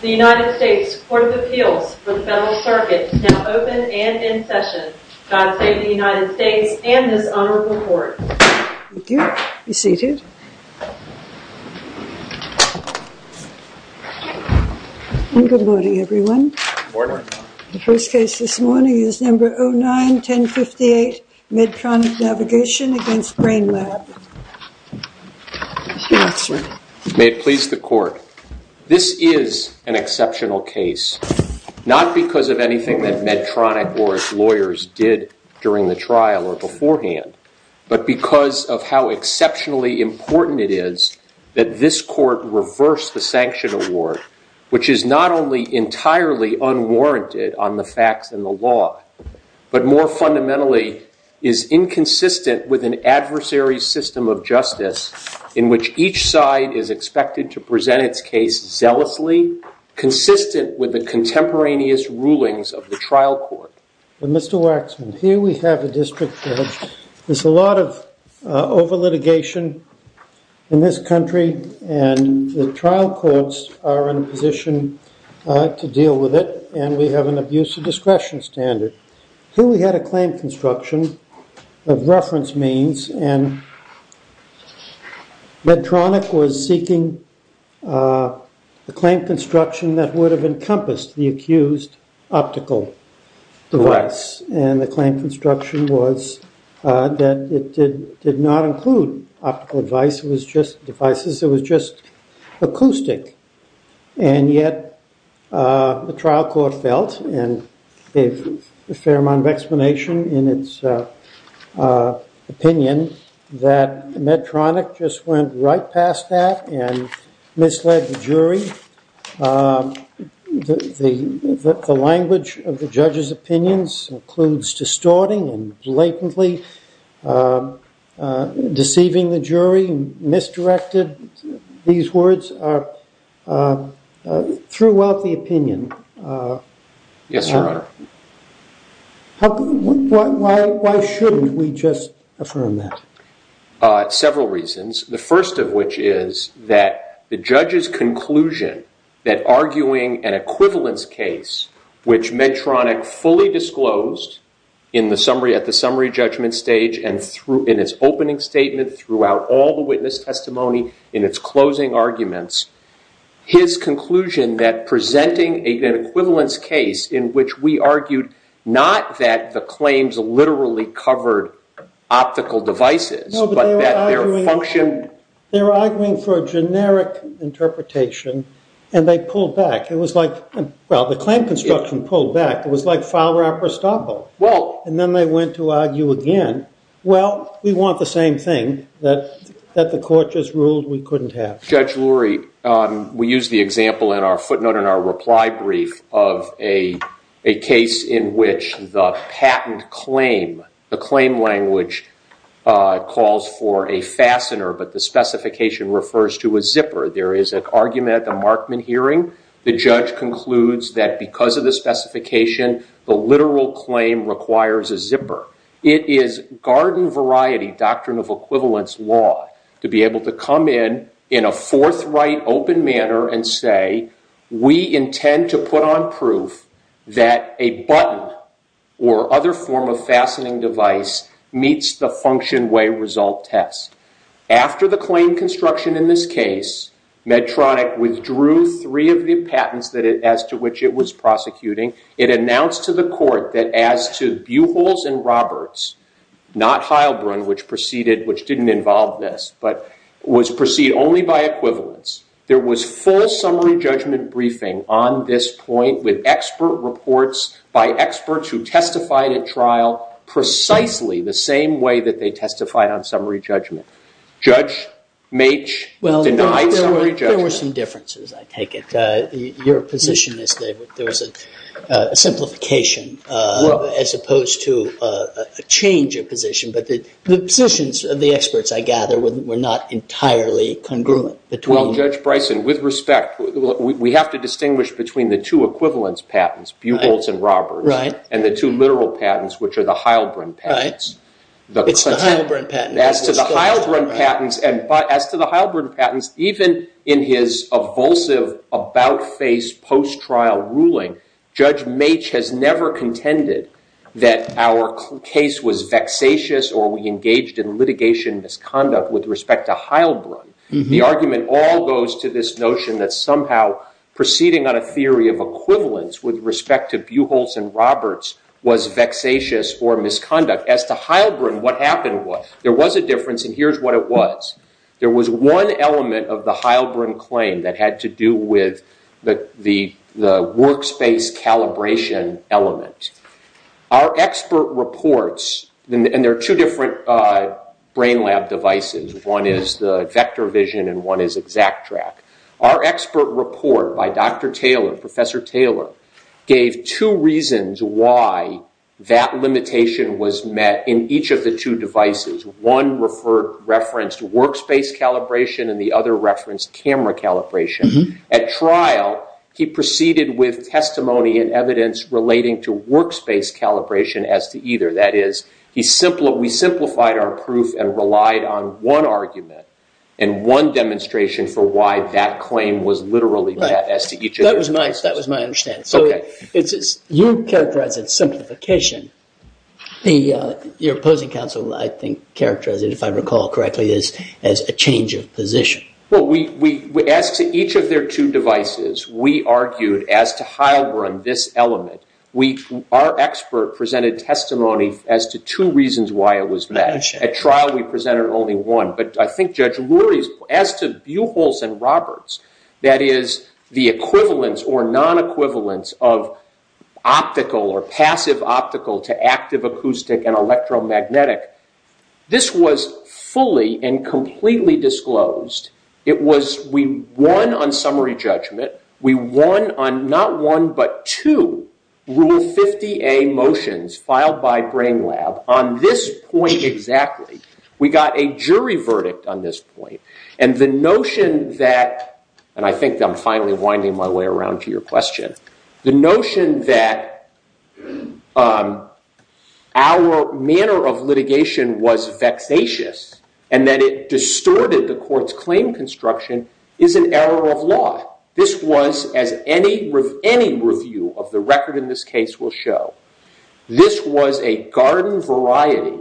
The United States Court of Appeals for the Federal Circuit is now open and in session. God save the United States and this honorable Court. Thank you. Be seated. Good morning. The first case this morning is number 09-1058 Medtronic Navigation v. Brainlab. May it please the Court. This is an exceptional case, not because of anything that Medtronic or its lawyers did during the trial or beforehand, but because of how exceptionally important it is that this Court reverse the sanction award, which is not only entirely unwarranted on the facts and the law, but more fundamentally is inconsistent with an adversary system of justice in which each side is expected to present its case zealously, consistent with the contemporaneous rulings of the trial court. Mr. Waxman, here we have a district court. There's a lot of over litigation in this country and the trial courts are in a position to deal with it and we have an abusive discretion standard. Here we had a claim construction of reference means and Medtronic was seeking a claim construction that would have encompassed the accused optical device and the claim construction was that it did not include optical devices, it was just acoustic. And yet the trial court felt and gave a fair amount of explanation in its opinion that Medtronic just went right past that and misled the jury. The language of the judge's opinions includes distorting and blatantly deceiving the jury, misdirected, these words are throughout the opinion. Yes, Your Honor. Why shouldn't we just affirm that? Several reasons. The first of which is that the judge's conclusion that arguing an equivalence case, which Medtronic fully disclosed at the summary judgment stage and in its opening statement throughout all the witness testimony in its closing arguments, his conclusion that presenting an equivalence case in which we argued not that the claims literally covered optical devices, but that their function... They were arguing for a generic interpretation and they pulled back. It was like, well, the claim construction pulled back. It was like foul rapprochement. And then they went to argue again. Well, we want the same thing that the court just ruled we couldn't have. Judge Lurie, we use the example in our footnote in our reply brief of a case in which the patent claim, the claim language calls for a fastener, but the specification refers to a zipper. There is an argument at the Markman hearing. The judge concludes that because of the specification, the literal claim requires a zipper. It is garden variety, doctrine of equivalence law, to be able to come in in a forthright, open manner and say, we intend to put on proof that a button or other form of fastening device meets the function way result test. After the claim construction in this case, Medtronic withdrew three of the patents as to which it was prosecuting. It announced to the court that as to Buchholz and Roberts, not Heilbrunn, which preceded, which didn't involve this, but was preceded only by equivalence, there was full summary judgment briefing on this point with expert reports by experts who testified at trial precisely the same way that they testified on summary judgment. Judge Maitch denied summary judgment. Well, there were some differences, I take it. Your position is that there was a simplification as opposed to a change of position, but the positions of the experts, I gather, were not entirely congruent. Well, Judge Bryson, with respect, we have to distinguish between the two equivalence patents, Buchholz and Roberts, and the two literal patents, which are the Heilbrunn patents. It's the Heilbrunn patent. As to the Heilbrunn patents, even in his evulsive about-face post-trial ruling, Judge Maitch has never contended that our case was vexatious or we engaged in litigation misconduct with respect to Heilbrunn. The argument all goes to this notion that somehow proceeding on a theory of equivalence with respect to Buchholz and Roberts was vexatious or misconduct. As to Heilbrunn, what happened was there was a difference, and here's what it was. There was one element of the Heilbrunn claim that had to do with the workspace calibration element. Our expert reports, and there are two different brain lab devices. One is the vector vision, and one is exact track. Our expert report by Dr. Taylor, Professor Taylor, gave two reasons why that limitation was met in each of the two devices. One referenced workspace calibration, and the other referenced camera calibration. At trial, he proceeded with testimony and evidence relating to workspace calibration as to either. That is, we simplified our proof and relied on one argument and one demonstration for why that claim was literally met as to each of their devices. That was my understanding. You characterized it as simplification. Your opposing counsel, I think, characterized it, if I recall correctly, as a change of position. As to each of their two devices, we argued as to Heilbrunn, this element. Our expert presented testimony as to two reasons why it was met. At trial, we presented only one. But I think Judge Lurie, as to Buholz and Roberts, that is, the equivalence or non-equivalence of optical or passive optical to active acoustic and electromagnetic, this was fully and completely disclosed. We won on summary judgment. We won on not one but two Rule 50A motions filed by Brain Lab on this point exactly. We got a jury verdict on this point. And the notion that, and I think I'm finally winding my way around to your question, the notion that our manner of litigation was vexatious and that it distorted the court's claim construction is an error of law. This was, as any review of the record in this case will show, this was a garden-variety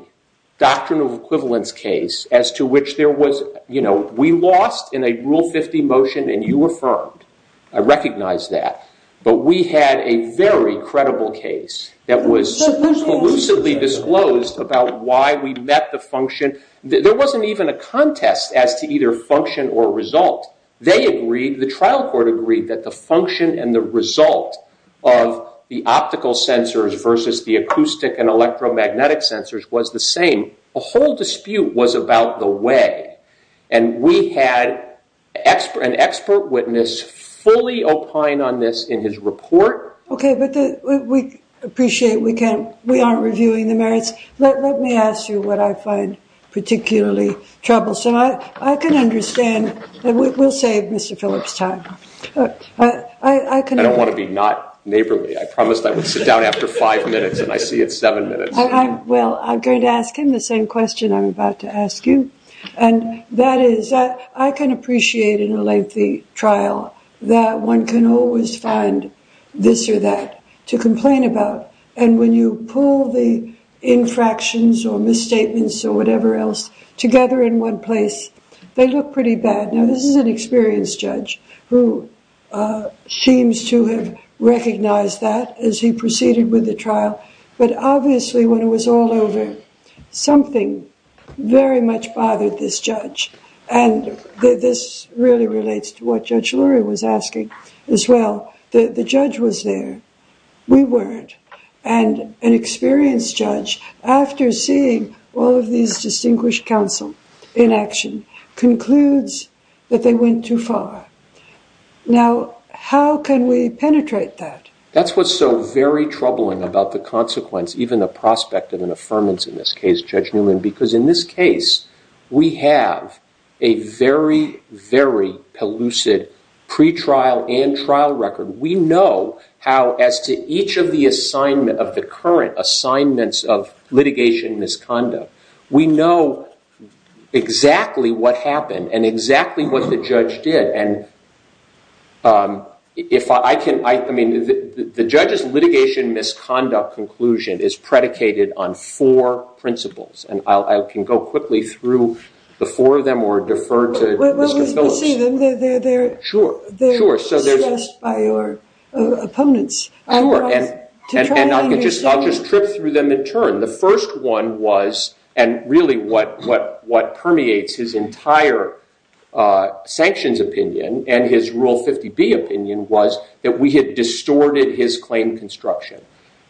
doctrinal equivalence case as to which there was, you know, we lost in a Rule 50 motion and you affirmed. I recognize that. But we had a very credible case that was elusively disclosed about why we met the function. There wasn't even a contest as to either function or result. They agreed, the trial court agreed, that the function and the result of the optical sensors versus the acoustic and electromagnetic sensors was the same. A whole dispute was about the way. And we had an expert witness fully opine on this in his report. Okay, but we appreciate we aren't reviewing the merits. Let me ask you what I find particularly troublesome. I can understand. We'll save Mr. Phillips time. I don't want to be not neighborly. I promised I would sit down after five minutes and I see it's seven minutes. Well, I'm going to ask him the same question I'm about to ask you. And that is, I can appreciate in a lengthy trial that one can always find this or that to complain about. And when you pull the infractions or misstatements or whatever else together in one place, they look pretty bad. Now, this is an experienced judge who seems to have recognized that as he proceeded with the trial. But obviously, when it was all over, something very much bothered this judge. And this really relates to what Judge Luria was asking as well. The judge was there. We weren't. And an experienced judge, after seeing all of these distinguished counsel in action, concludes that they went too far. Now, how can we penetrate that? That's what's so very troubling about the consequence, even the prospect of an affirmance in this case, Judge Newman, because in this case we have a very, very pellucid pretrial and trial record. We know how, as to each of the current assignments of litigation misconduct, we know exactly what happened and exactly what the judge did. And the judge's litigation misconduct conclusion is predicated on four principles. And I can go quickly through the four of them or defer to Mr. Phillips. We'll see them. They're discussed by your opponents. The first one was, and really what permeates his entire sanctions opinion and his Rule 50B opinion was that we had distorted his claim construction.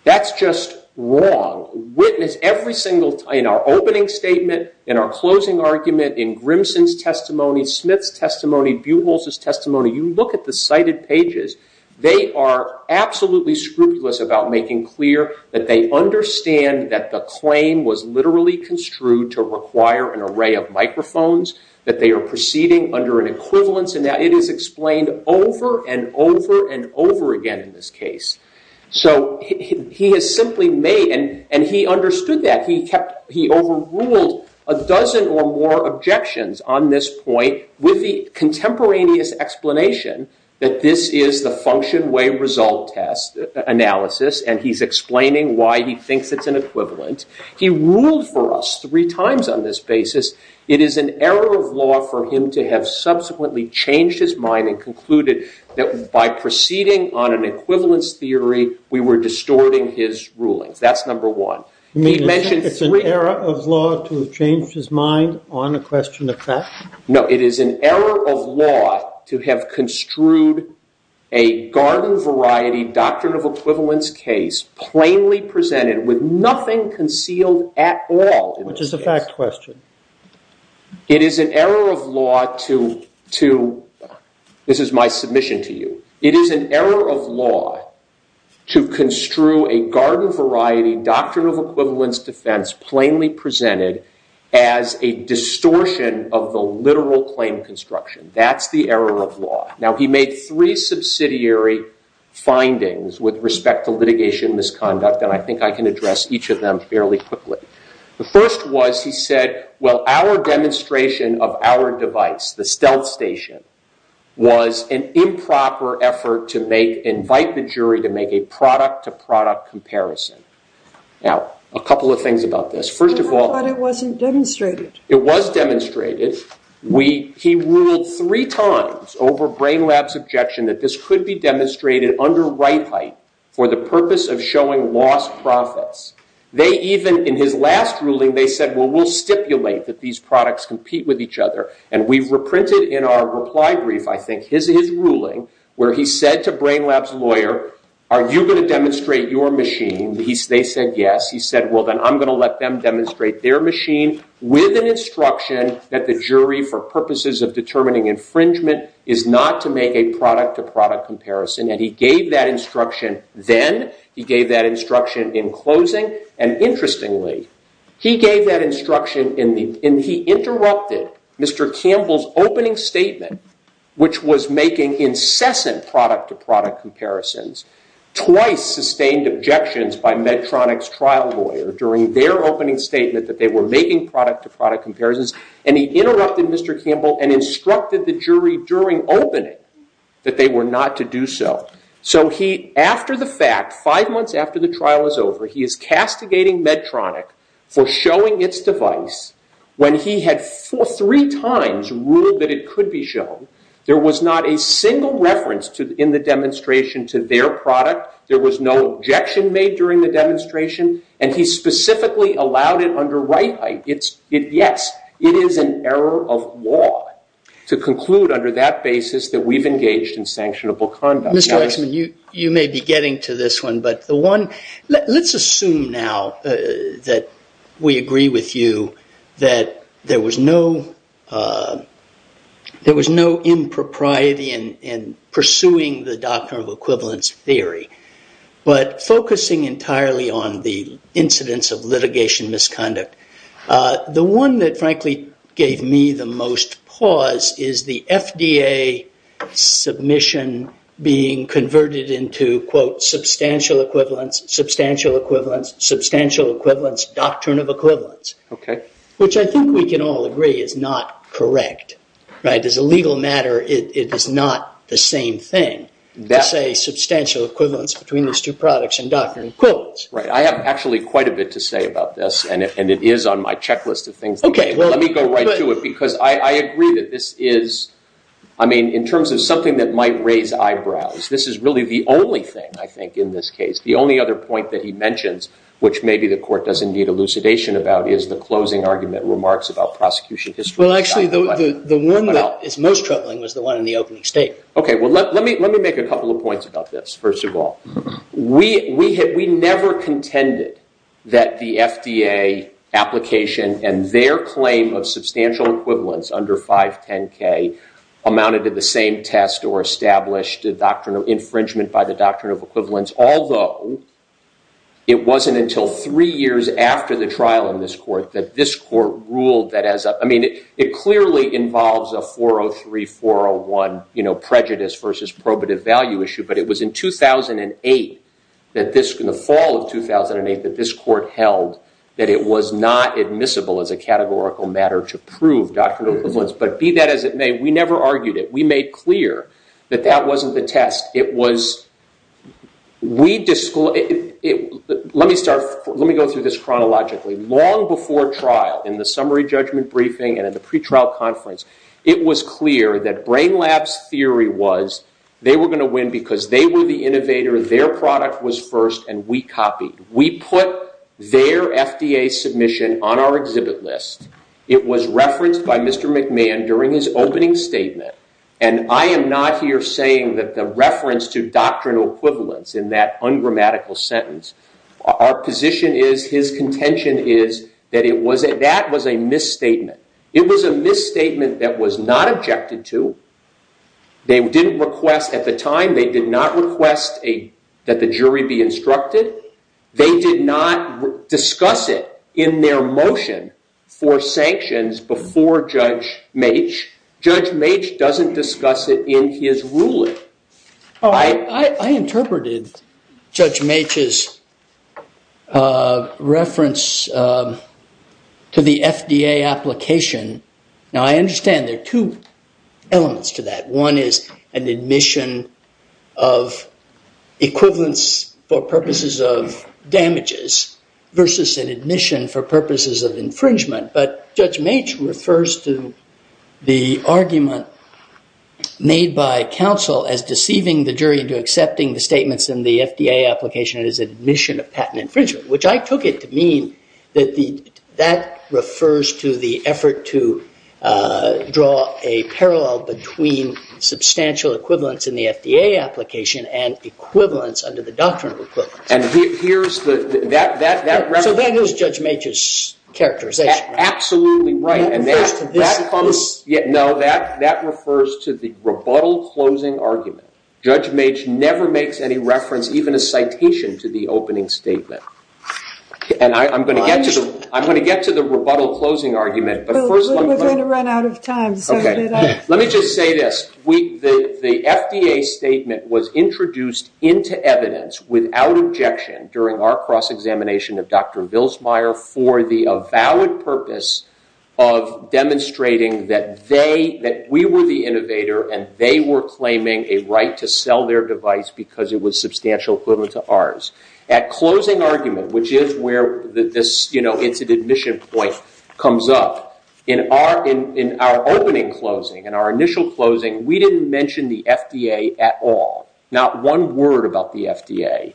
That's just wrong. Witness every single time, in our opening statement, in our closing argument, in Grimson's testimony, Smith's testimony, Buchholz's testimony. You look at the cited pages. They are absolutely scrupulous about making clear that they understand that the claim was literally construed to require an array of microphones, that they are proceeding under an equivalence, and that it is explained over and over and over again in this case. So he has simply made, and he understood that. He overruled a dozen or more objections on this point with the contemporaneous explanation that this is the function way result test analysis, and he's explaining why he thinks it's an equivalent. He ruled for us three times on this basis. It is an error of law for him to have subsequently changed his mind and concluded that by proceeding on an equivalence theory, we were distorting his rulings. That's number one. It's an error of law to have changed his mind on a question of fact? No, it is an error of law to have construed a garden variety doctrine of equivalence case plainly presented with nothing concealed at all. Which is a fact question. It is an error of law to, this is my submission to you, it is an error of law to construe a garden variety doctrine of equivalence defense plainly presented as a distortion of the literal claim construction. That's the error of law. Now, he made three subsidiary findings with respect to litigation misconduct, and I think I can address each of them fairly quickly. The first was he said, well, our demonstration of our device, the stealth station, was an improper effort to invite the jury to make a product-to-product comparison. Now, a couple of things about this. I thought it wasn't demonstrated. It was demonstrated. He ruled three times over Brain Lab's objection that this could be demonstrated under right height for the purpose of showing lost profits. They even, in his last ruling, they said, well, we'll stipulate that these products compete with each other. And we've reprinted in our reply brief, I think, his ruling, where he said to Brain Lab's lawyer, are you going to demonstrate your machine? They said yes. He said, well, then I'm going to let them demonstrate their machine with an instruction that the jury, for purposes of determining infringement, is not to make a product-to-product comparison. And he gave that instruction then. He gave that instruction in closing. And interestingly, he gave that instruction, and he interrupted Mr. Campbell's opening statement, which was making incessant product-to-product comparisons, twice sustained objections by Medtronic's trial lawyer during their opening statement that they were making product-to-product comparisons. And he interrupted Mr. Campbell and instructed the jury during opening that they were not to do so. So he, after the fact, five months after the trial is over, he is castigating Medtronic for showing its device when he had three times ruled that it could be shown. There was not a single reference in the demonstration to their product. There was no objection made during the demonstration, and he specifically allowed it under right height. Yes, it is an error of law to conclude under that basis that we've engaged in sanctionable conduct. Mr. Weitzman, you may be getting to this one, but let's assume now that we agree with you that there was no impropriety in pursuing the doctrinal equivalence theory, but focusing entirely on the incidence of litigation misconduct. The one that frankly gave me the most pause is the FDA submission being converted into, quote, substantial equivalence, substantial equivalence, substantial equivalence, doctrine of equivalence, which I think we can all agree is not correct. As a legal matter, it is not the same thing to say substantial equivalence between these two products and doctrine of equivalence. I have actually quite a bit to say about this, and it is on my checklist of things. Let me go right to it, because I agree that this is, I mean, in terms of something that might raise eyebrows, this is really the only thing, I think, in this case, the only other point that he mentions, which maybe the court does indeed elucidation about, is the closing argument remarks about prosecution history. Well, actually, the one that is most troubling was the one in the opening statement. Okay, well, let me make a couple of points about this, first of all. We never contended that the FDA application and their claim of substantial equivalence under 510K amounted to the same test or established infringement by the doctrine of equivalence, although it wasn't until three years after the trial in this court that this court ruled that as a, I mean, it clearly involves a 403-401, you know, prejudice versus probative value issue, that it was not admissible as a categorical matter to prove doctrinal equivalence. But be that as it may, we never argued it. We made clear that that wasn't the test. It was, we, let me start, let me go through this chronologically. Long before trial, in the summary judgment briefing and in the pretrial conference, it was clear that Brain Lab's theory was they were going to win because they were the innovator, their product was first, and we copied. We put their FDA submission on our exhibit list. It was referenced by Mr. McMahon during his opening statement, and I am not here saying that the reference to doctrinal equivalence in that ungrammatical sentence, our position is, his contention is, that it was a, that was a misstatement. It was a misstatement that was not objected to. They didn't request, at the time, they did not request that the jury be instructed. They did not discuss it in their motion for sanctions before Judge Meech. Judge Meech doesn't discuss it in his ruling. I interpreted Judge Meech's reference to the FDA application. Now, I understand there are two elements to that. One is an admission of equivalence for purposes of damages versus an admission for purposes of infringement, but Judge Meech refers to the argument made by counsel as deceiving the jury into accepting the statements in the FDA application as admission of patent infringement, which I took it to mean that that refers to the effort to draw a parallel between substantial equivalence in the FDA application and equivalence under the doctrine of equivalence. So that was Judge Meech's characterization. Absolutely right. That refers to this? No, that refers to the rebuttal closing argument. Judge Meech never makes any reference, even a citation, to the opening statement. And I'm going to get to the rebuttal closing argument, but first let me just say this. The FDA statement was introduced into evidence without objection during our cross-examination of Dr. Bilsmeier for the avowed purpose of demonstrating that we were the innovator and they were claiming a right to sell their device because it was substantial equivalent to ours. At closing argument, which is where this incident admission point comes up, in our opening closing, in our initial closing, we didn't mention the FDA at all. Not one word about the FDA.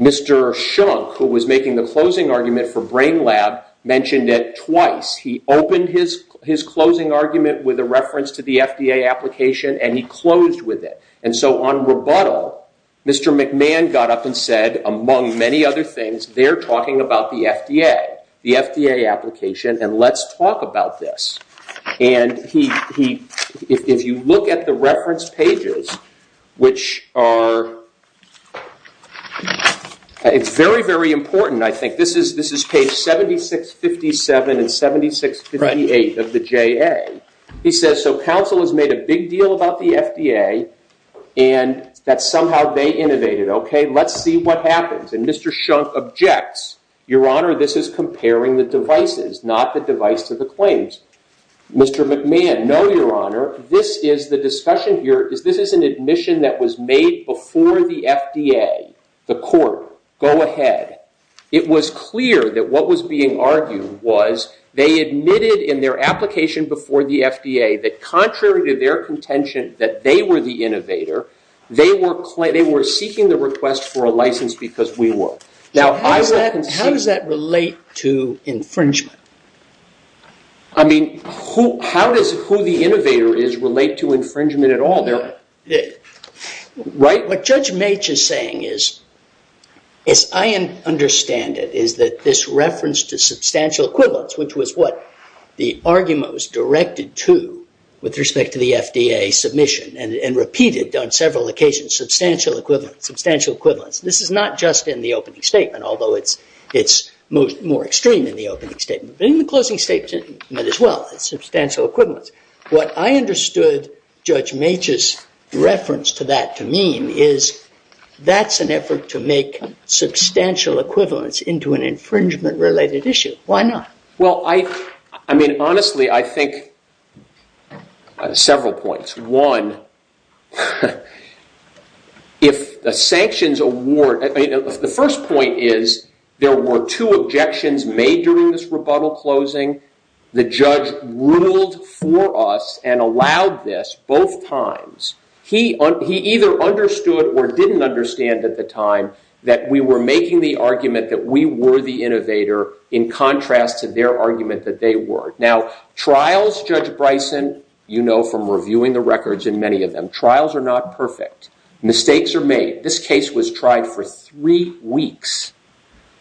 Mr. Schunk, who was making the closing argument for Brain Lab, mentioned it twice. He opened his closing argument with a reference to the FDA application and he closed with it. And so on rebuttal, Mr. McMahon got up and said, among many other things, they're talking about the FDA, the FDA application, and let's talk about this. And if you look at the reference pages, which are... It's very, very important, I think. This is page 7657 and 7658 of the JA. He says, so counsel has made a big deal about the FDA and that somehow they innovated. Okay, let's see what happens. And Mr. Schunk objects. Your Honor, this is comparing the devices, not the device to the claims. Mr. McMahon, no, Your Honor. This is the discussion here. This is an admission that was made before the FDA, the court. Go ahead. It was clear that what was being argued was they admitted in their application before the FDA that contrary to their contention that they were the innovator, they were seeking the request for a license because we were. How does that relate to infringement? I mean, how does who the innovator is relate to infringement at all? What Judge Maitch is saying is, as I understand it, is that this reference to substantial equivalence, which was what the argument was directed to with respect to the FDA submission and repeated on several occasions, substantial equivalence. This is not just in the opening statement, although it's more extreme in the opening statement. But in the closing statement as well, it's substantial equivalence. What I understood Judge Maitch's reference to that to mean is that's an effort to make substantial equivalence into an infringement-related issue. Why not? Well, I mean, honestly, I think several points. One, if the sanctions award, the first point is there were two objections made during this rebuttal closing. The judge ruled for us and allowed this both times. He either understood or didn't understand at the time that we were making the argument that we were the innovator in contrast to their argument that they were. Now, trials, Judge Bryson, you know from reviewing the records in many of them, trials are not perfect. Mistakes are made. This case was tried for three weeks.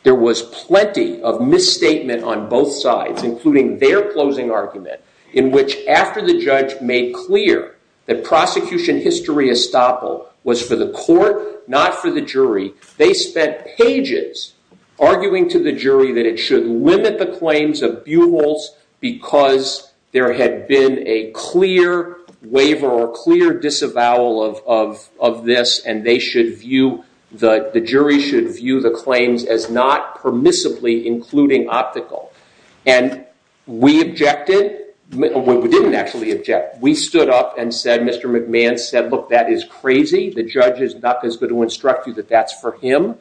There was plenty of misstatement on both sides, including their closing argument, in which after the judge made clear that prosecution history estoppel was for the court, not for the jury, they spent pages arguing to the jury that it should limit the claims of buhols because there had been a clear waiver or clear disavowal of this and the jury should view the claims as not permissibly including optical. We objected. We didn't actually object. We stood up and said, Mr. McMahon said, look, that is crazy. The judge is not going to instruct you that that's for him.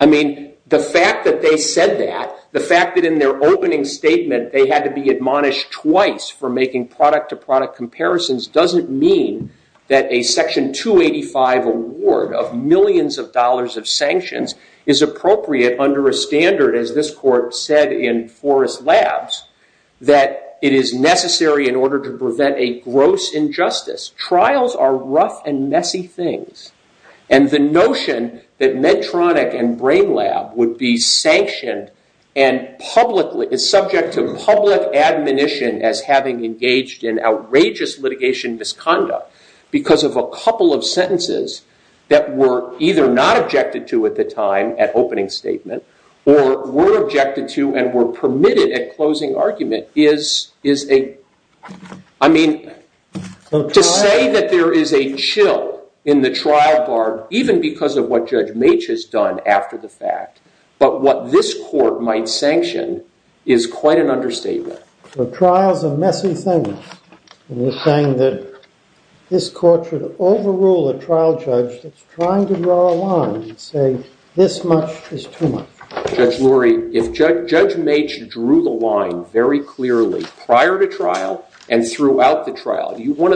I mean, the fact that they said that, the fact that in their opening statement they had to be admonished twice for making product-to-product comparisons doesn't mean that a Section 285 award of millions of dollars of sanctions is appropriate under a standard, as this court said in Forrest Labs, that it is necessary in order to prevent a gross injustice. Trials are rough and messy things, and the notion that Medtronic and Brain Lab would be sanctioned and subject to public admonition as having engaged that were either not objected to at the time at opening statement or were objected to and were permitted at closing argument is a... I mean, to say that there is a chill in the trial bar even because of what Judge Maitch has done after the fact, but what this court might sanction is quite an understatement. Trials are messy things, and you're saying that this court should overrule a trial judge that's trying to draw a line and say, this much is too much. Judge Lurie, if Judge Maitch drew the line very clearly prior to trial and throughout the trial, one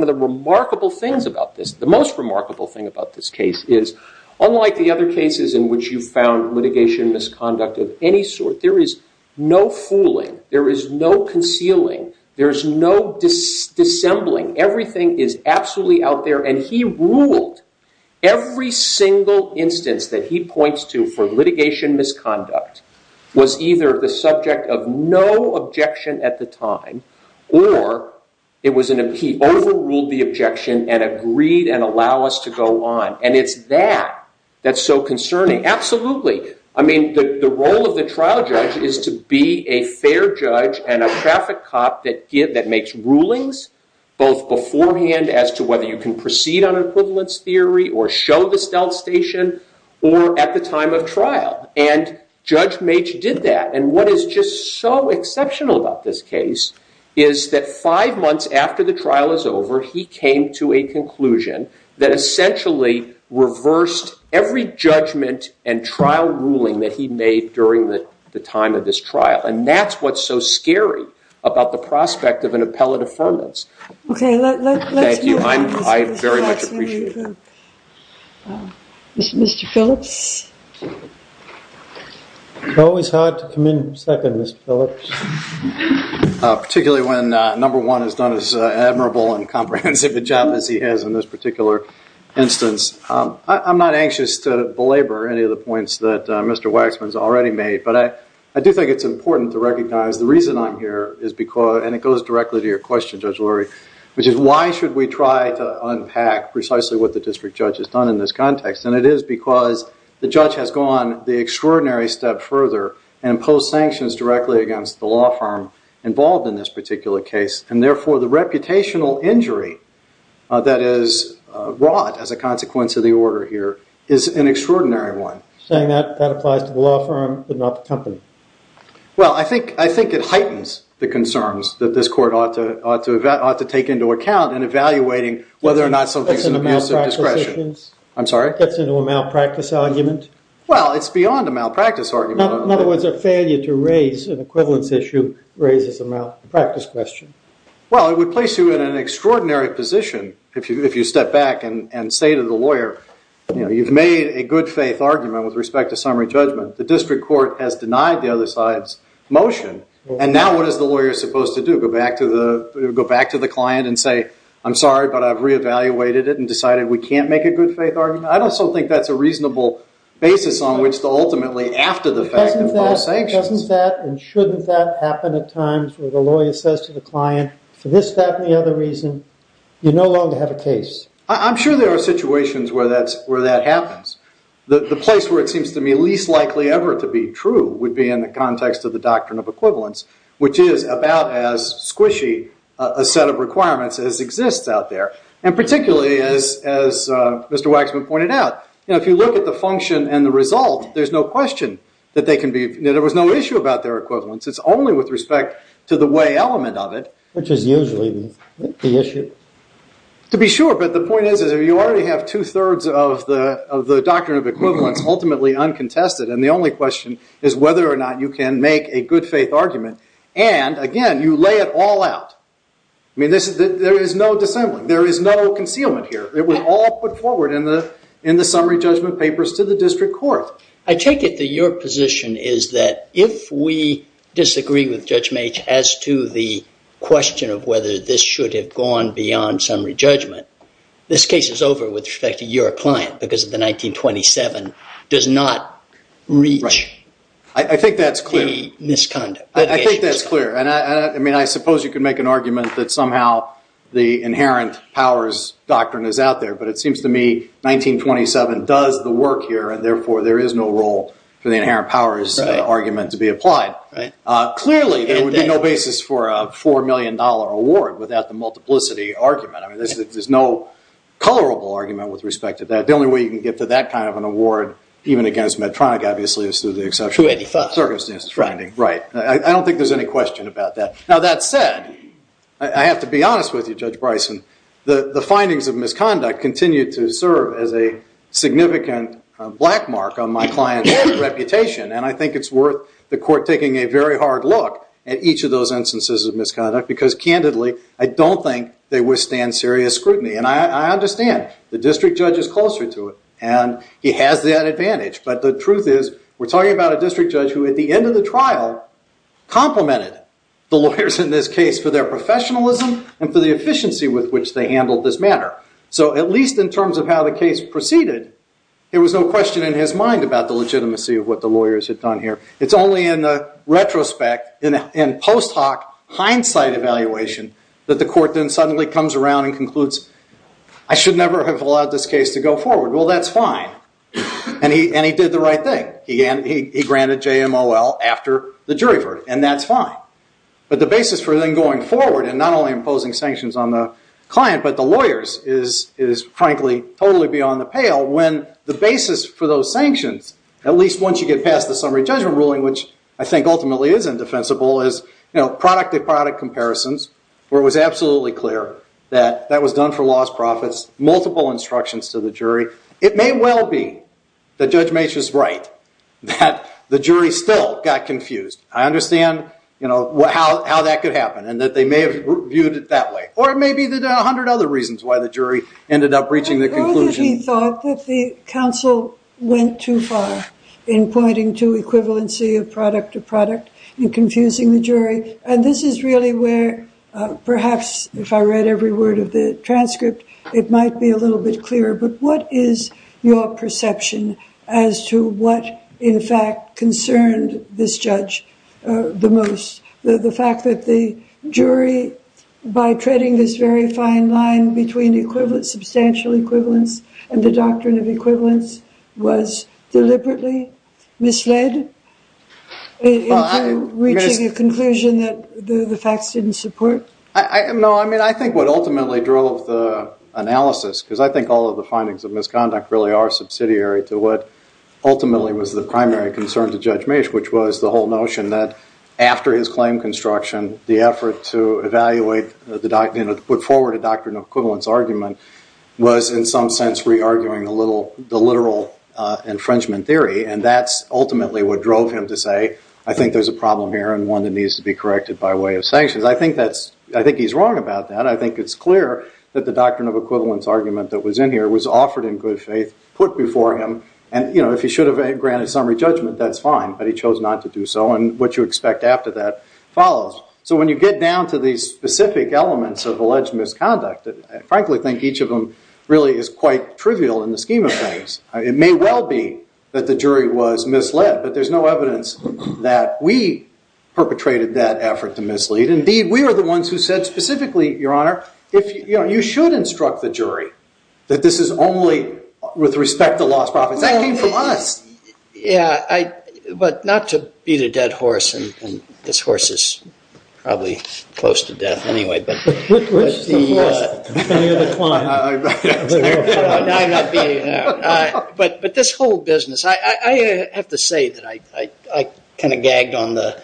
of the remarkable things about this, the most remarkable thing about this case is, unlike the other cases in which you found litigation misconduct of any sort, there is no fooling, there is no concealing, there is no dissembling. Everything is absolutely out there, and he ruled every single instance that he points to for litigation misconduct was either the subject of no objection at the time or he overruled the objection and agreed and allowed us to go on. And it's that that's so concerning. Absolutely. I mean, the role of the trial judge is to be a fair judge and a traffic cop that makes rulings both beforehand as to whether you can proceed on equivalence theory or show the stealth station or at the time of trial, and Judge Maitch did that. And what is just so exceptional about this case is that five months after the trial is over, he came to a conclusion that essentially reversed every judgment and trial ruling that he made during the time of this trial, and that's what's so scary about the prospect of an appellate affirmance. Okay, let's move on. Thank you. I very much appreciate that. Mr. Phillips? It's always hard to come in second, Mr. Phillips, particularly when number one has done as admirable and comprehensive a job as he has in this particular instance. I'm not anxious to belabor any of the points that Mr. Waxman has already made, but I do think it's important to recognize the reason I'm here, and it goes directly to your question, Judge Lurie, which is why should we try to unpack precisely what the district judge has done in this context? And it is because the judge has gone the extraordinary step further and imposed sanctions directly against the law firm involved in this particular case, and therefore the reputational injury that is brought as a consequence of the order here is an extraordinary one. You're saying that applies to the law firm but not the company? Well, I think it heightens the concerns that this court ought to take into account in evaluating whether or not something is an abuse of discretion. I'm sorry? Gets into a malpractice argument? Well, it's beyond a malpractice argument. In other words, a failure to raise an equivalence issue raises a malpractice question. Well, it would place you in an extraordinary position if you step back and say to the lawyer, you've made a good-faith argument with respect to summary judgment. The district court has denied the other side's motion, and now what is the lawyer supposed to do? Go back to the client and say, I'm sorry, but I've reevaluated it and decided we can't make a good-faith argument? I'd also think that's a reasonable basis on which to ultimately, after the fact, file sanctions. Doesn't that and shouldn't that happen at times where the lawyer says to the client, for this, that, and the other reason, you no longer have a case? I'm sure there are situations where that happens. The place where it seems to me least likely ever to be true would be in the context of the doctrine of equivalence, which is about as squishy a set of requirements as exists out there. And particularly, as Mr. Waxman pointed out, if you look at the function and the result, there's no question that there was no issue about their equivalence. It's only with respect to the way element of it. Which is usually the issue. To be sure, but the point is that you already have two-thirds of the doctrine of equivalence ultimately uncontested, and the only question is whether or not you can make a good-faith argument. And, again, you lay it all out. There is no dissembling. There is no concealment here. It was all put forward in the summary judgment papers to the district court. I take it that your position is that if we disagree with Judge Mage as to the question of whether this should have gone beyond summary judgment, this case is over with respect to your client, because the 1927 does not reach the misconduct. I think that's clear. I suppose you could make an argument that somehow the inherent powers doctrine is out there, but it seems to me 1927 does the work here, and therefore there is no role for the inherent powers argument to be applied. Clearly, there would be no basis for a $4 million award without the multiplicity argument. There's no colorable argument with respect to that. The only way you can get to that kind of an award, even against Medtronic, obviously, is through the exceptional circumstances. Right. I don't think there's any question about that. That said, I have to be honest with you, Judge Bryson. The findings of misconduct continue to serve as a significant black mark on my client's reputation, and I think it's worth the court taking a very hard look at each of those instances of misconduct, because, candidly, I don't think they withstand serious scrutiny. I understand the district judge is closer to it, and he has that advantage, but the truth is, we're talking about a district judge who, at the end of the trial, complimented the lawyers in this case for their professionalism and for the efficiency with which they handled this matter. So, at least in terms of how the case proceeded, there was no question in his mind about the legitimacy of what the lawyers had done here. It's only in retrospect, in post hoc hindsight evaluation, that the court then suddenly comes around and concludes, I should never have allowed this case to go forward. Well, that's fine. And he did the right thing. He granted JMOL after the jury verdict, and that's fine. But the basis for then going forward, and not only imposing sanctions on the client, but the lawyers is, frankly, totally beyond the pale, when the basis for those sanctions, at least once you get past the summary judgment ruling, which I think ultimately is indefensible, is product to product comparisons, where it was absolutely clear that that was done for lost profits, multiple instructions to the jury. It may well be that Judge Mace was right, that the jury still got confused. I understand how that could happen, and that they may have viewed it that way. Or it may be that there are a hundred other reasons why the jury ended up reaching the conclusion. I know that he thought that the counsel went too far in pointing to equivalency of product to product and confusing the jury. And this is really where perhaps, if I read every word of the transcript, it might be a little bit clearer. But what is your perception as to what, in fact, concerned this judge the most? The fact that the jury, by treading this very fine line between substantial equivalence and the doctrine of equivalence, was deliberately misled into reaching a conclusion that the facts didn't support? No, I mean, I think what ultimately drove the analysis, because I think all of the findings of misconduct really are subsidiary to what ultimately was the primary concern to Judge Mace, which was the whole notion that after his claim construction, the effort to put forward a doctrine of equivalence argument was, in some sense, re-arguing the literal infringement theory. And that's ultimately what drove him to say, I think there's a problem here and one that needs to be corrected by way of sanctions. I think he's wrong about that. I think it's clear that the doctrine of equivalence argument that was in here was offered in good faith, put before him, and if he should have granted summary judgment, that's fine, but he chose not to do so, and what you expect after that follows. So when you get down to these specific elements of alleged misconduct, I frankly think each of them really is quite trivial in the scheme of things. It may well be that the jury was misled, but there's no evidence that we perpetrated that effort to mislead. Indeed, we are the ones who said specifically, Your Honor, you should instruct the jury that this is only with respect to lost profits. That came from us. Yeah, but not to beat a dead horse, and this horse is probably close to death anyway, but this whole business, I have to say that I kind of gagged on the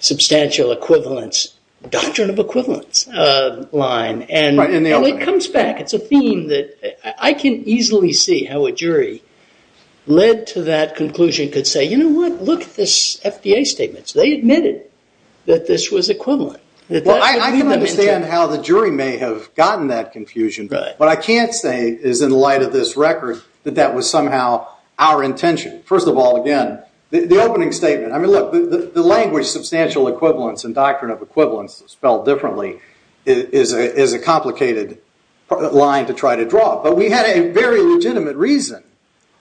substantial equivalence, doctrine of equivalence line, and it comes back. It's a theme that I can easily see how a jury led to that conclusion, could say, You know what? Look at this FDA statement. They admitted that this was equivalent. Well, I can understand how the jury may have gotten that confusion, but what I can't say is in light of this record that that was somehow our intention. First of all, again, the opening statement, I mean, look, the language substantial equivalence and doctrine of equivalence spelled differently is a complicated line to try to draw, but we had a very legitimate reason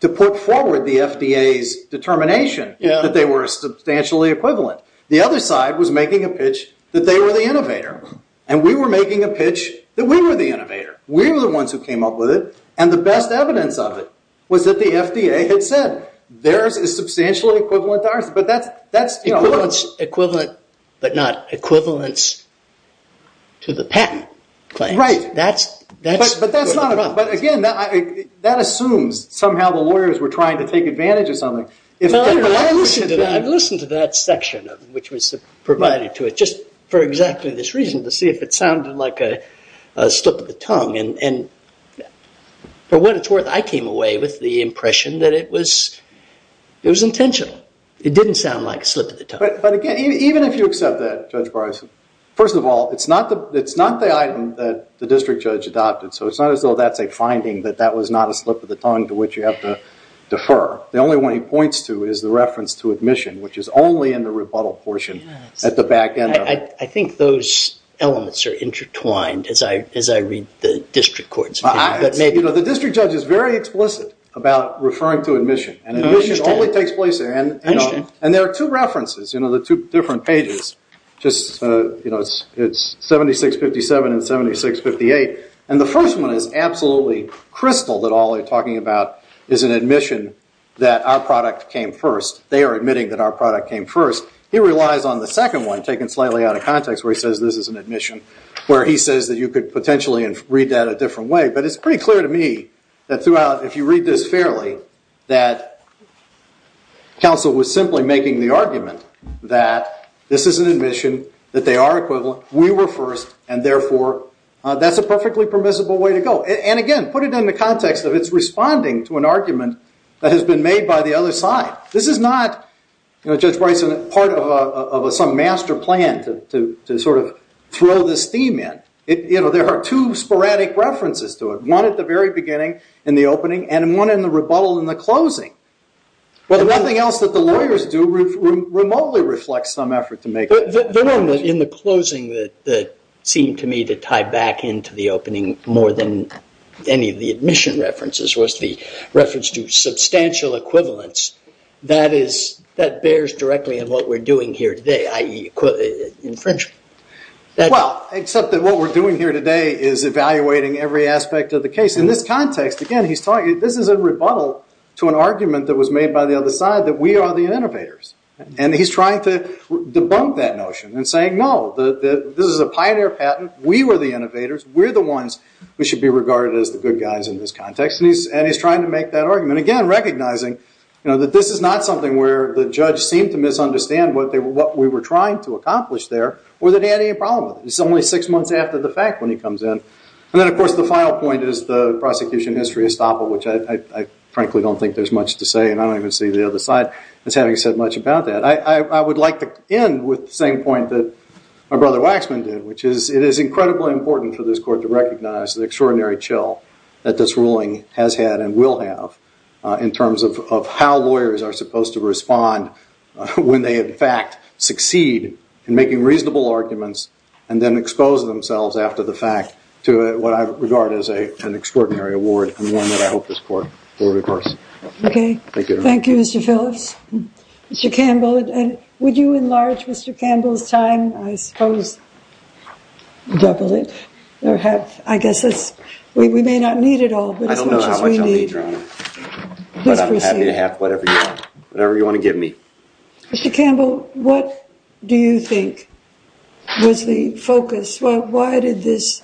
to put forward the FDA's determination that they were substantially equivalent. The other side was making a pitch that they were the innovator, and we were making a pitch that we were the innovator. We were the ones who came up with it, and the best evidence of it was that the FDA had said, Theirs is substantially equivalent to ours, Equivalent, but not equivalence to the patent claims. Right. That's... But that's not... But again, that assumes somehow the lawyers were trying to take advantage of something. I listened to that section, which was provided to it, just for exactly this reason, to see if it sounded like a slip of the tongue, and for what it's worth, I came away with the impression that it was intentional. It didn't sound like a slip of the tongue. But again, even if you accept that, Judge Bryson, first of all, it's not the item that the district judge adopted, so it's not as though that's a finding, that that was not a slip of the tongue to which you have to defer. The only one he points to is the reference to admission, which is only in the rebuttal portion at the back end of it. I think those elements are intertwined as I read the district court's opinion, but maybe... The district judge is very explicit about referring to admission, and admission only takes place... And there are two references, the two different pages. It's 7657 and 7658, and the first one is absolutely crystal, that all they're talking about is an admission that our product came first. They are admitting that our product came first. He relies on the second one, taken slightly out of context, where he says this is an admission, where he says that you could potentially read that a different way, but it's pretty clear to me that throughout, if you read this fairly, that counsel was simply making the argument that this is an admission, that they are equivalent, we were first, and therefore that's a perfectly permissible way to go. And again, put it in the context of it's responding to an argument that has been made by the other side. This is not, Judge Bryson, part of some master plan to sort of throw this theme in. There are two sporadic references to it, one at the very beginning in the opening, and one in the rebuttal in the closing. The one thing else that the lawyers do remotely reflects some effort to make... The one in the closing that seemed to me to tie back into the opening more than any of the admission references was the reference to substantial equivalence that bears directly on what we're doing here today, i.e. infringement. Well, except that what we're doing here today is evaluating every aspect of the case. In this context, again, he's talking... This is a rebuttal to an argument that was made by the other side that we are the innovators. And he's trying to debunk that notion and saying, no, this is a pioneer patent, we were the innovators, we're the ones who should be regarded as the good guys in this context. And he's trying to make that argument, again, recognizing that this is not something where the judge seemed to misunderstand what we were trying to accomplish there or that he had any problem with it. It's only six months after the fact when he comes in. And then, of course, the final point is the prosecution history estoppel, which I frankly don't think there's much to say and I don't even see the other side as having said much about that. I would like to end with the same point that my brother Waxman did, which is it is incredibly important for this court to recognize the extraordinary chill that this ruling has had and will have in terms of how lawyers are supposed to respond when they, in fact, succeed in making reasonable arguments and then expose themselves after the fact to what I regard as an extraordinary award and one that I hope this court will reverse. Okay. Thank you, Mr. Phillips. Mr. Campbell, would you enlarge Mr. Campbell's time? I suppose double it. I guess we may not need it all, but as much as we need. I don't know how much I'll need, Your Honor. Please proceed. But I'm happy to have whatever you want, whatever you want to give me. Mr. Campbell, what do you think was the focus? Why did this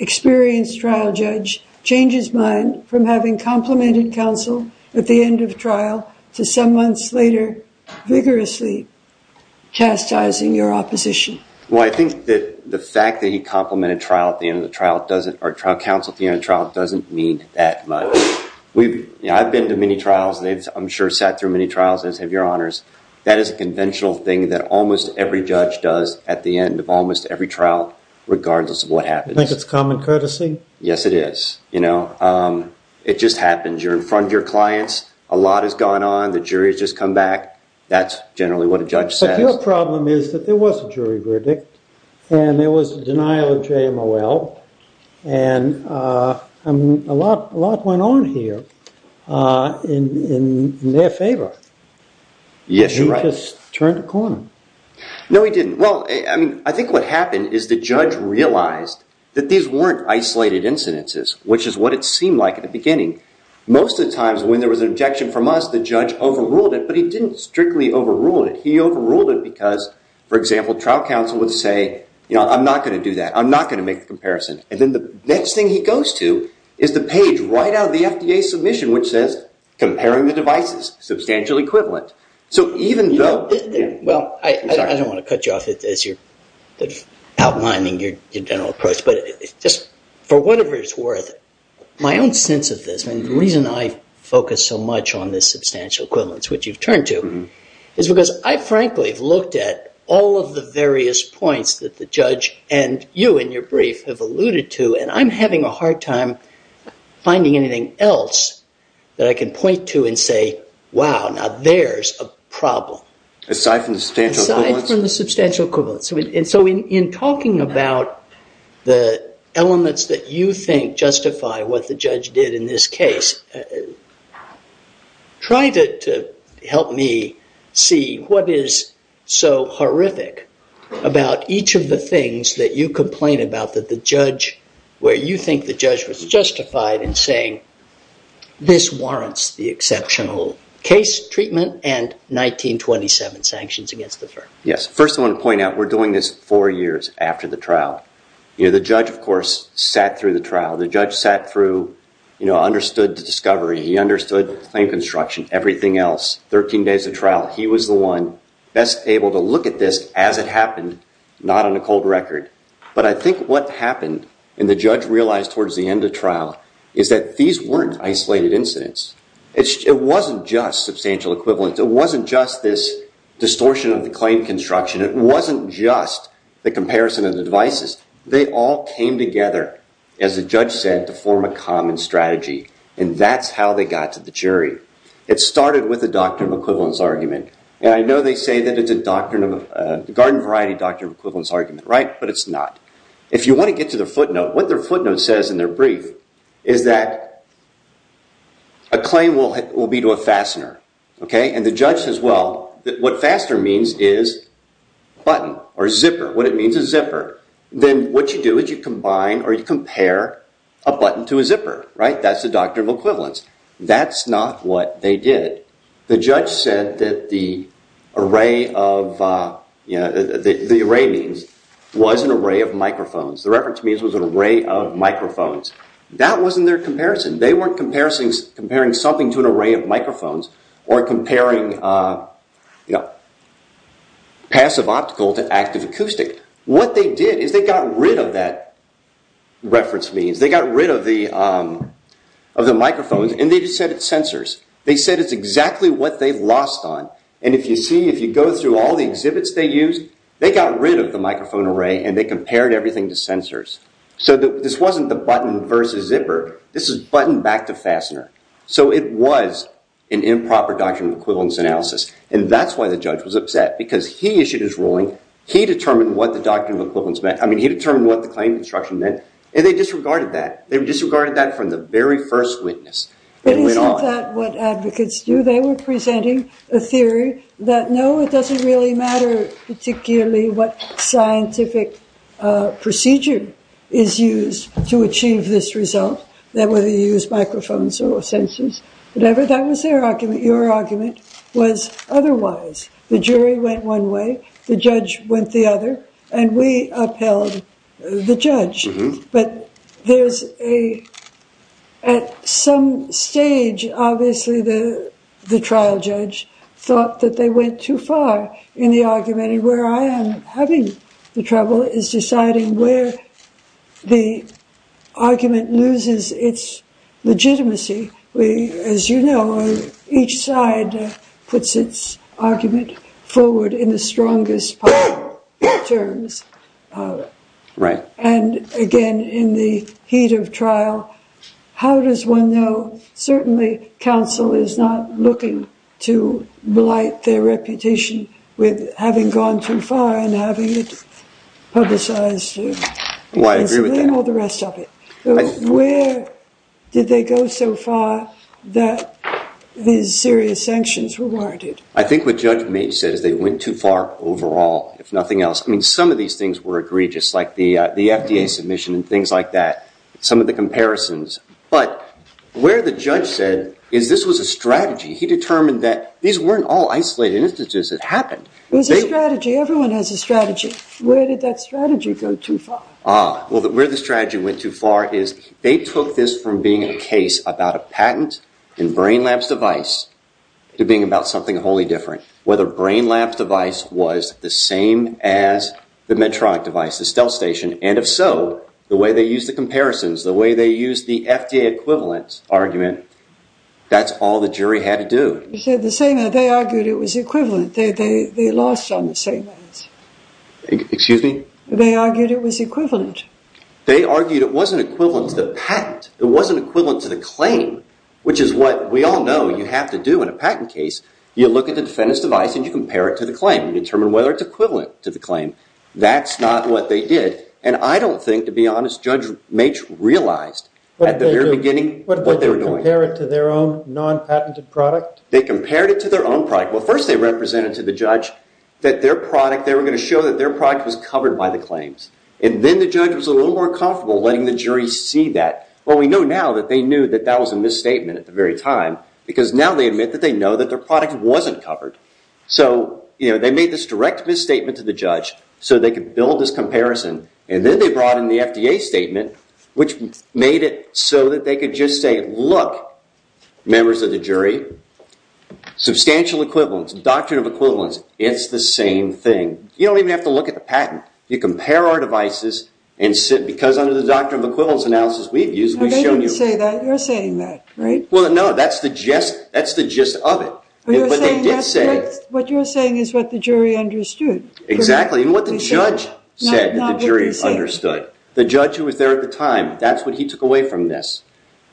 experienced trial judge change his mind from having complimented counsel at the end of trial to some months later vigorously chastising your opposition? Well, I think that the fact that he complimented trial at the end of the trial doesn't, or trial counsel at the end of the trial doesn't mean that much. I've been to many trials. I'm sure sat through many trials, as have Your Honors. That is a conventional thing that almost every judge does at the end of almost every trial, regardless of what happens. You think it's common courtesy? Yes, it is. It just happens. You're in front of your clients. A lot has gone on. The jury has just come back. That's generally what a judge says. But your problem is that there was a jury verdict, and there was a denial of JMOL, and a lot went on here in their favor. Yes, you're right. You just turned a corner. No, we didn't. Well, I think what happened is the judge realized that these weren't isolated incidences, which is what it seemed like at the beginning. Most of the times when there was an objection from us, the judge overruled it. But he didn't strictly overrule it. He overruled it because, for example, trial counsel would say, I'm not going to do that. I'm not going to make the comparison. And then the next thing he goes to is the page right out of the FDA submission, which says, comparing the devices, substantial equivalent. So even though... Well, I don't want to cut you off as you're outlining your general approach, but just for whatever it's worth, my own sense of this, and the reason I focus so much on this substantial equivalence, which you've turned to, is because I frankly have looked at all of the various points that the judge and you in your brief have alluded to, and I'm having a hard time finding anything else that I can point to and say, wow, now there's a problem. Aside from the substantial equivalence? Aside from the substantial equivalence. And so in talking about the elements that you think justify what the judge did in this case, try to help me see what is so horrific about each of the things that you complain about that the judge, where you think the judge was justified in saying this warrants the exceptional case treatment and 1927 sanctions against the firm. Yes, first I want to point out we're doing this four years after the trial. The judge, of course, sat through the trial. The judge sat through, understood the discovery. He understood the claim construction, everything else, 13 days of trial. He was the one best able to look at this as it happened, not on a cold record. But I think what happened and the judge realized towards the end of trial is that these weren't isolated incidents. It wasn't just substantial equivalence. It wasn't just this distortion of the claim construction. It wasn't just the comparison of the devices. They all came together, as the judge said, to form a common strategy. And that's how they got to the jury. It started with the doctrine of equivalence argument. And I know they say that it's a garden variety doctrine of equivalence argument, but it's not. If you want to get to the footnote, what their footnote says in their brief is that a claim will be to a fastener. And the judge says, well, what faster means is button or zipper. What it means is zipper. Then what you do is you combine or you compare a button to a zipper. That's the doctrine of equivalence. That's not what they did. The judge said that the array means was an array of microphones. The reference means was an array of microphones. That wasn't their comparison. They weren't comparing something to an array of microphones or comparing passive optical to active acoustic. What they did is they got rid of that reference means. They got rid of the microphones and they just said it's sensors. They said it's exactly what they've lost on. And if you see, if you go through all the exhibits they used, they got rid of the microphone array and they compared everything to sensors. So this wasn't the button versus zipper. This is button back to fastener. So it was an improper doctrine of equivalence analysis. And that's why the judge was upset because he issued his ruling. He determined what the doctrine of equivalence meant. I mean, he determined what the claim construction meant. And they disregarded that. They disregarded that from the very first witness. But isn't that what advocates do? They were presenting a theory that no, it doesn't really matter particularly what scientific procedure is used to achieve this result, that whether you use microphones or sensors, whatever. That was their argument. Your argument was otherwise. The jury went one way. The judge went the other. And we upheld the judge. But there's a... At some stage, obviously, the trial judge thought that they went too far in the argument. And where I am having the trouble is deciding where the argument loses its legitimacy. As you know, each side puts its argument forward in the strongest possible terms. Right. And again, in the heat of trial, how does one know? Certainly, counsel is not looking to blight their reputation with having gone too far and having it publicized and all the rest of it. Where did they go so far that these serious sanctions were warranted? I think what Judge Mage said is they went too far overall, if nothing else. I mean, some of these things were egregious, like the FDA submission and things like that, some of the comparisons. But where the judge said is this was a strategy. He determined that these weren't all isolated instances that happened. It was a strategy. Everyone has a strategy. Where did that strategy go too far? Ah. Well, where the strategy went too far is they took this from being a case about a patent in Brain Lab's device to being about something wholly different, whether Brain Lab's device was the same as the Medtronic device, the stealth station. And if so, the way they used the comparisons, the way they used the FDA equivalent argument, that's all the jury had to do. You said the same. They argued it was equivalent. They lost on the same ends. Excuse me? They argued it was equivalent. They argued it wasn't equivalent to the patent. It wasn't equivalent to the claim, which is what we all know you have to do in a patent case. You look at the defendant's device and you compare it to the claim. You determine whether it's equivalent to the claim. That's not what they did. And I don't think, to be honest, Judge Mache realized at the very beginning what they were doing. What did they do? Compare it to their own non-patented product? They compared it to their own product. Well, first they represented to the judge that their product, they were going to show that their product was covered by the claims. And then the judge was a little more comfortable letting the jury see that. Well, we know now that they knew that that was a misstatement at the very time because now they admit that they know that their product wasn't covered. So, you know, they made this direct misstatement to the judge so they could build this comparison. And then they brought in the FDA statement which made it so that they could just say, look, members of the jury, substantial equivalence, doctrine of equivalence, it's the same thing. You don't even have to look at the patent. You compare our devices and because under the doctrine of equivalence analysis we've used, we've shown you... No, they didn't say that. You're saying that, right? Well, no, that's the gist of it. But they did say What you're saying is what the jury understood. Exactly. And what the judge said that the jury understood. The judge who was there at the time, that's what he took away from this.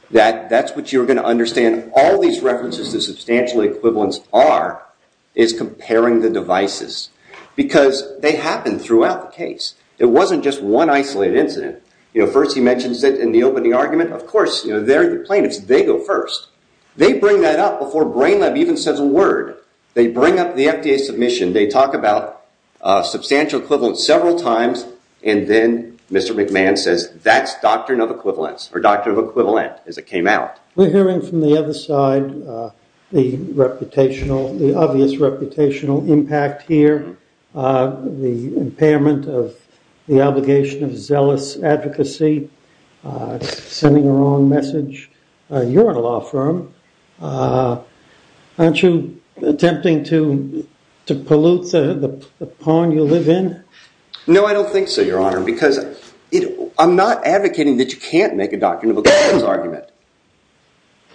That's what you're going to understand. All these references to substantial equivalence are is comparing the devices because they happen throughout the case. It wasn't just one isolated incident. You know, first he mentions it in the opening argument. Of course, you know, they're the plaintiffs. They go first. They bring that up before Brain Lab even says a word. They bring up the FDA submission. They talk about substantial equivalence several times and then Mr. McMahon says that's doctrine of equivalence or doctrine of equivalent as it came out. We're hearing from the other side the reputational, You're in a law firm. You're in a law firm. You're in a law firm. You're in a law firm. You're in a law firm. You're in a law firm. Aren't you attempting to pollute the pawn you live in? No, I don't think so, Your Honor, because I'm not advocating that you can't make a doctrine of equivalence argument.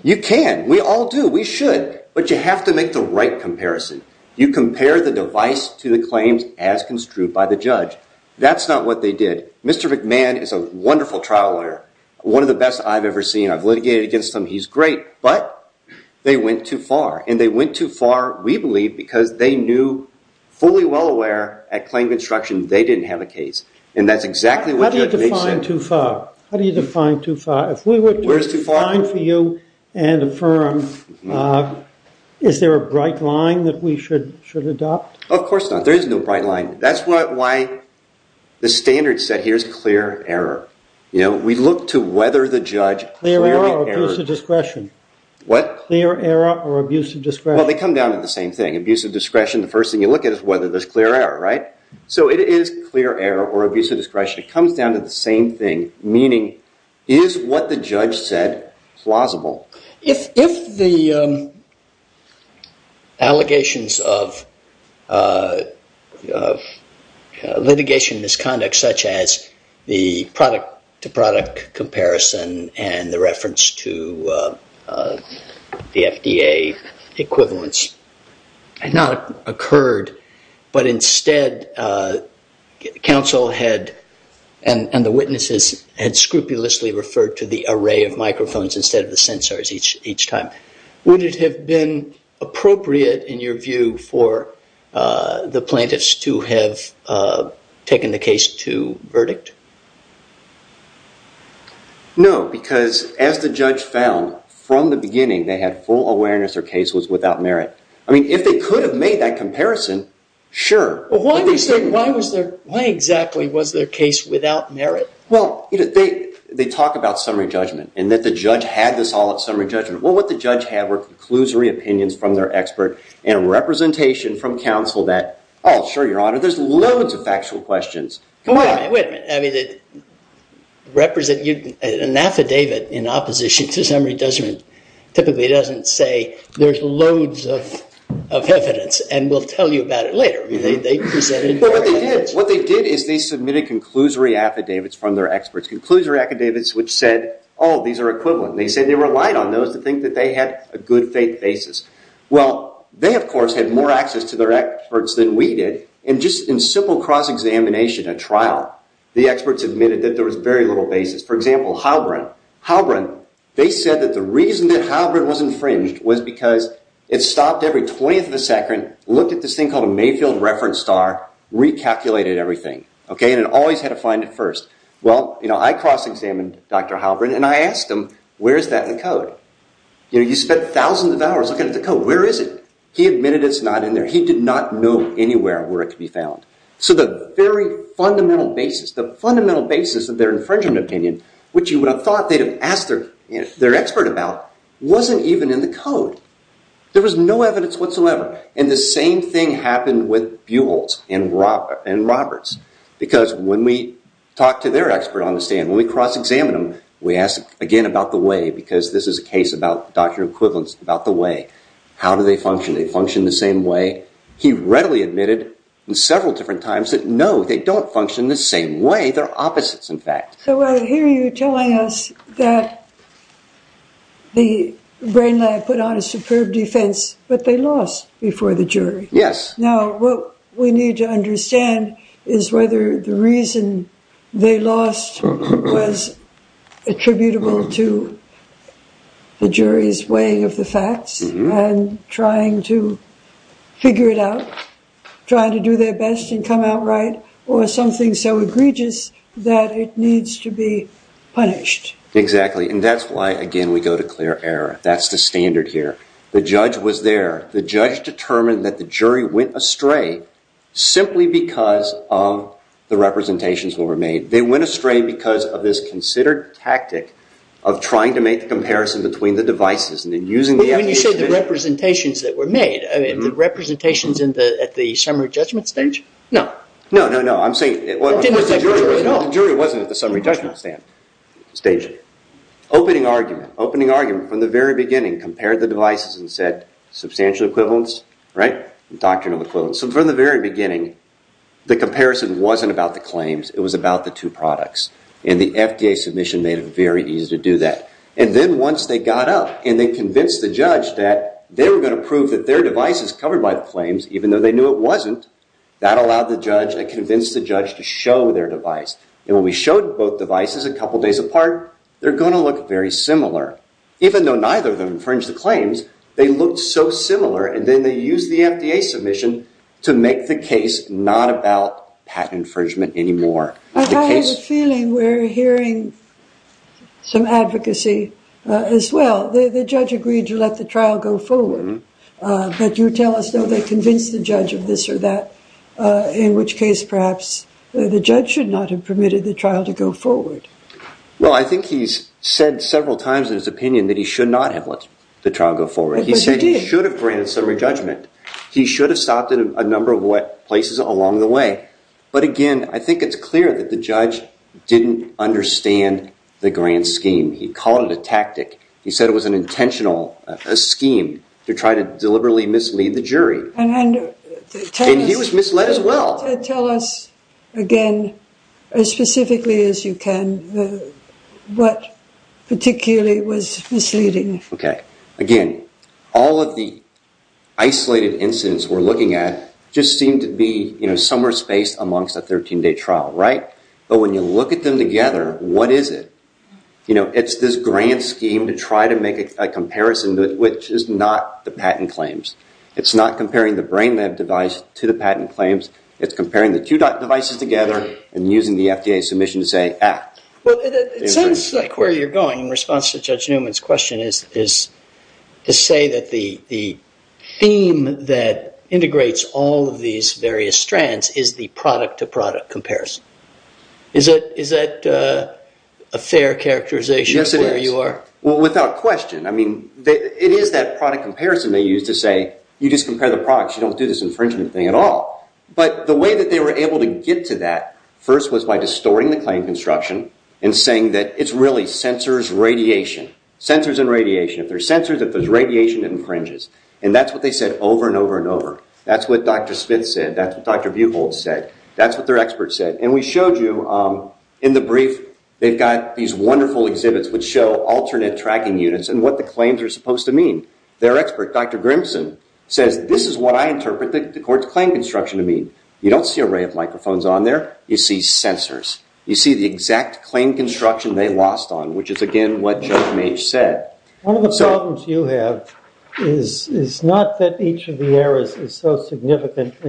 You can. We all do. We should. But you have to make the right comparison. You compare the device to the claims as construed by the judge. That's not what they did. Mr. McMahon is a wonderful trial lawyer. One of the best I've ever seen. I've litigated against him. He's great. But they went too far. And they went too far, we believe, because they knew fully well aware at claim construction they didn't have a case. And that's exactly what the judge makes it. How do you define too far? How do you define too far? If we were to define for you and affirm, is there a bright line that we should adopt? Of course not. There is no bright line. That's why the standard set here is clear error. You know, we look to whether the judge clearly errors. Abusive discretion. What? Clear error or abusive discretion. Well, they come down to the same thing. Abusive discretion, the first thing you look at is whether there's clear error, right? So it is clear error or abusive discretion. It comes down to the same thing. Meaning, is what the judge said plausible? If the allegations of litigation misconduct such as the product to product comparison and the reference to the FDA equivalence had not occurred but instead counsel had and the witnesses had scrupulously referred to the array of microphones instead of the sensors each time, would it have been appropriate in your view for the plaintiffs to have taken the case to verdict? No, because as the judge found from the beginning they had full awareness their case was without merit. I mean, if they could have made that comparison, sure. Why exactly was their case without merit? Well, they talk about summary judgment and that the judge had this all at summary judgment. Well, what the judge had were conclusory opinions from their expert and representation from counsel that, oh, sure, your honor, there's loads of factual questions. Wait a minute. An affidavit in opposition to summary judgment typically doesn't say there's loads of evidence and we'll tell you about it later. What they did, what they did is they submitted conclusory affidavits from their experts. Conclusory affidavits which said, oh, these are equivalent. They said they relied on those to think that they had a good faith basis. Well, they, of course, had more access to their experts than we did. And just in simple cross-examination at trial, the experts admitted that there was very little basis. For example, Heilbrunn, Heilbrunn, they said that the reason that Heilbrunn was infringed was because it stopped every 20th of a second, looked at this thing called a Mayfield reference star, recalculated everything, and it always had to find it first. Well, I cross-examined Dr. Heilbrunn and I asked him, where is that in the code? You spent thousands of hours looking at the code, where is it? He admitted it's not in there. He did not know anywhere where it could be found. So the very fundamental basis, the fundamental basis of the theory was that the brain lab put on a lost before the jury. Yes. Now, what was the case that was the case that was the case that was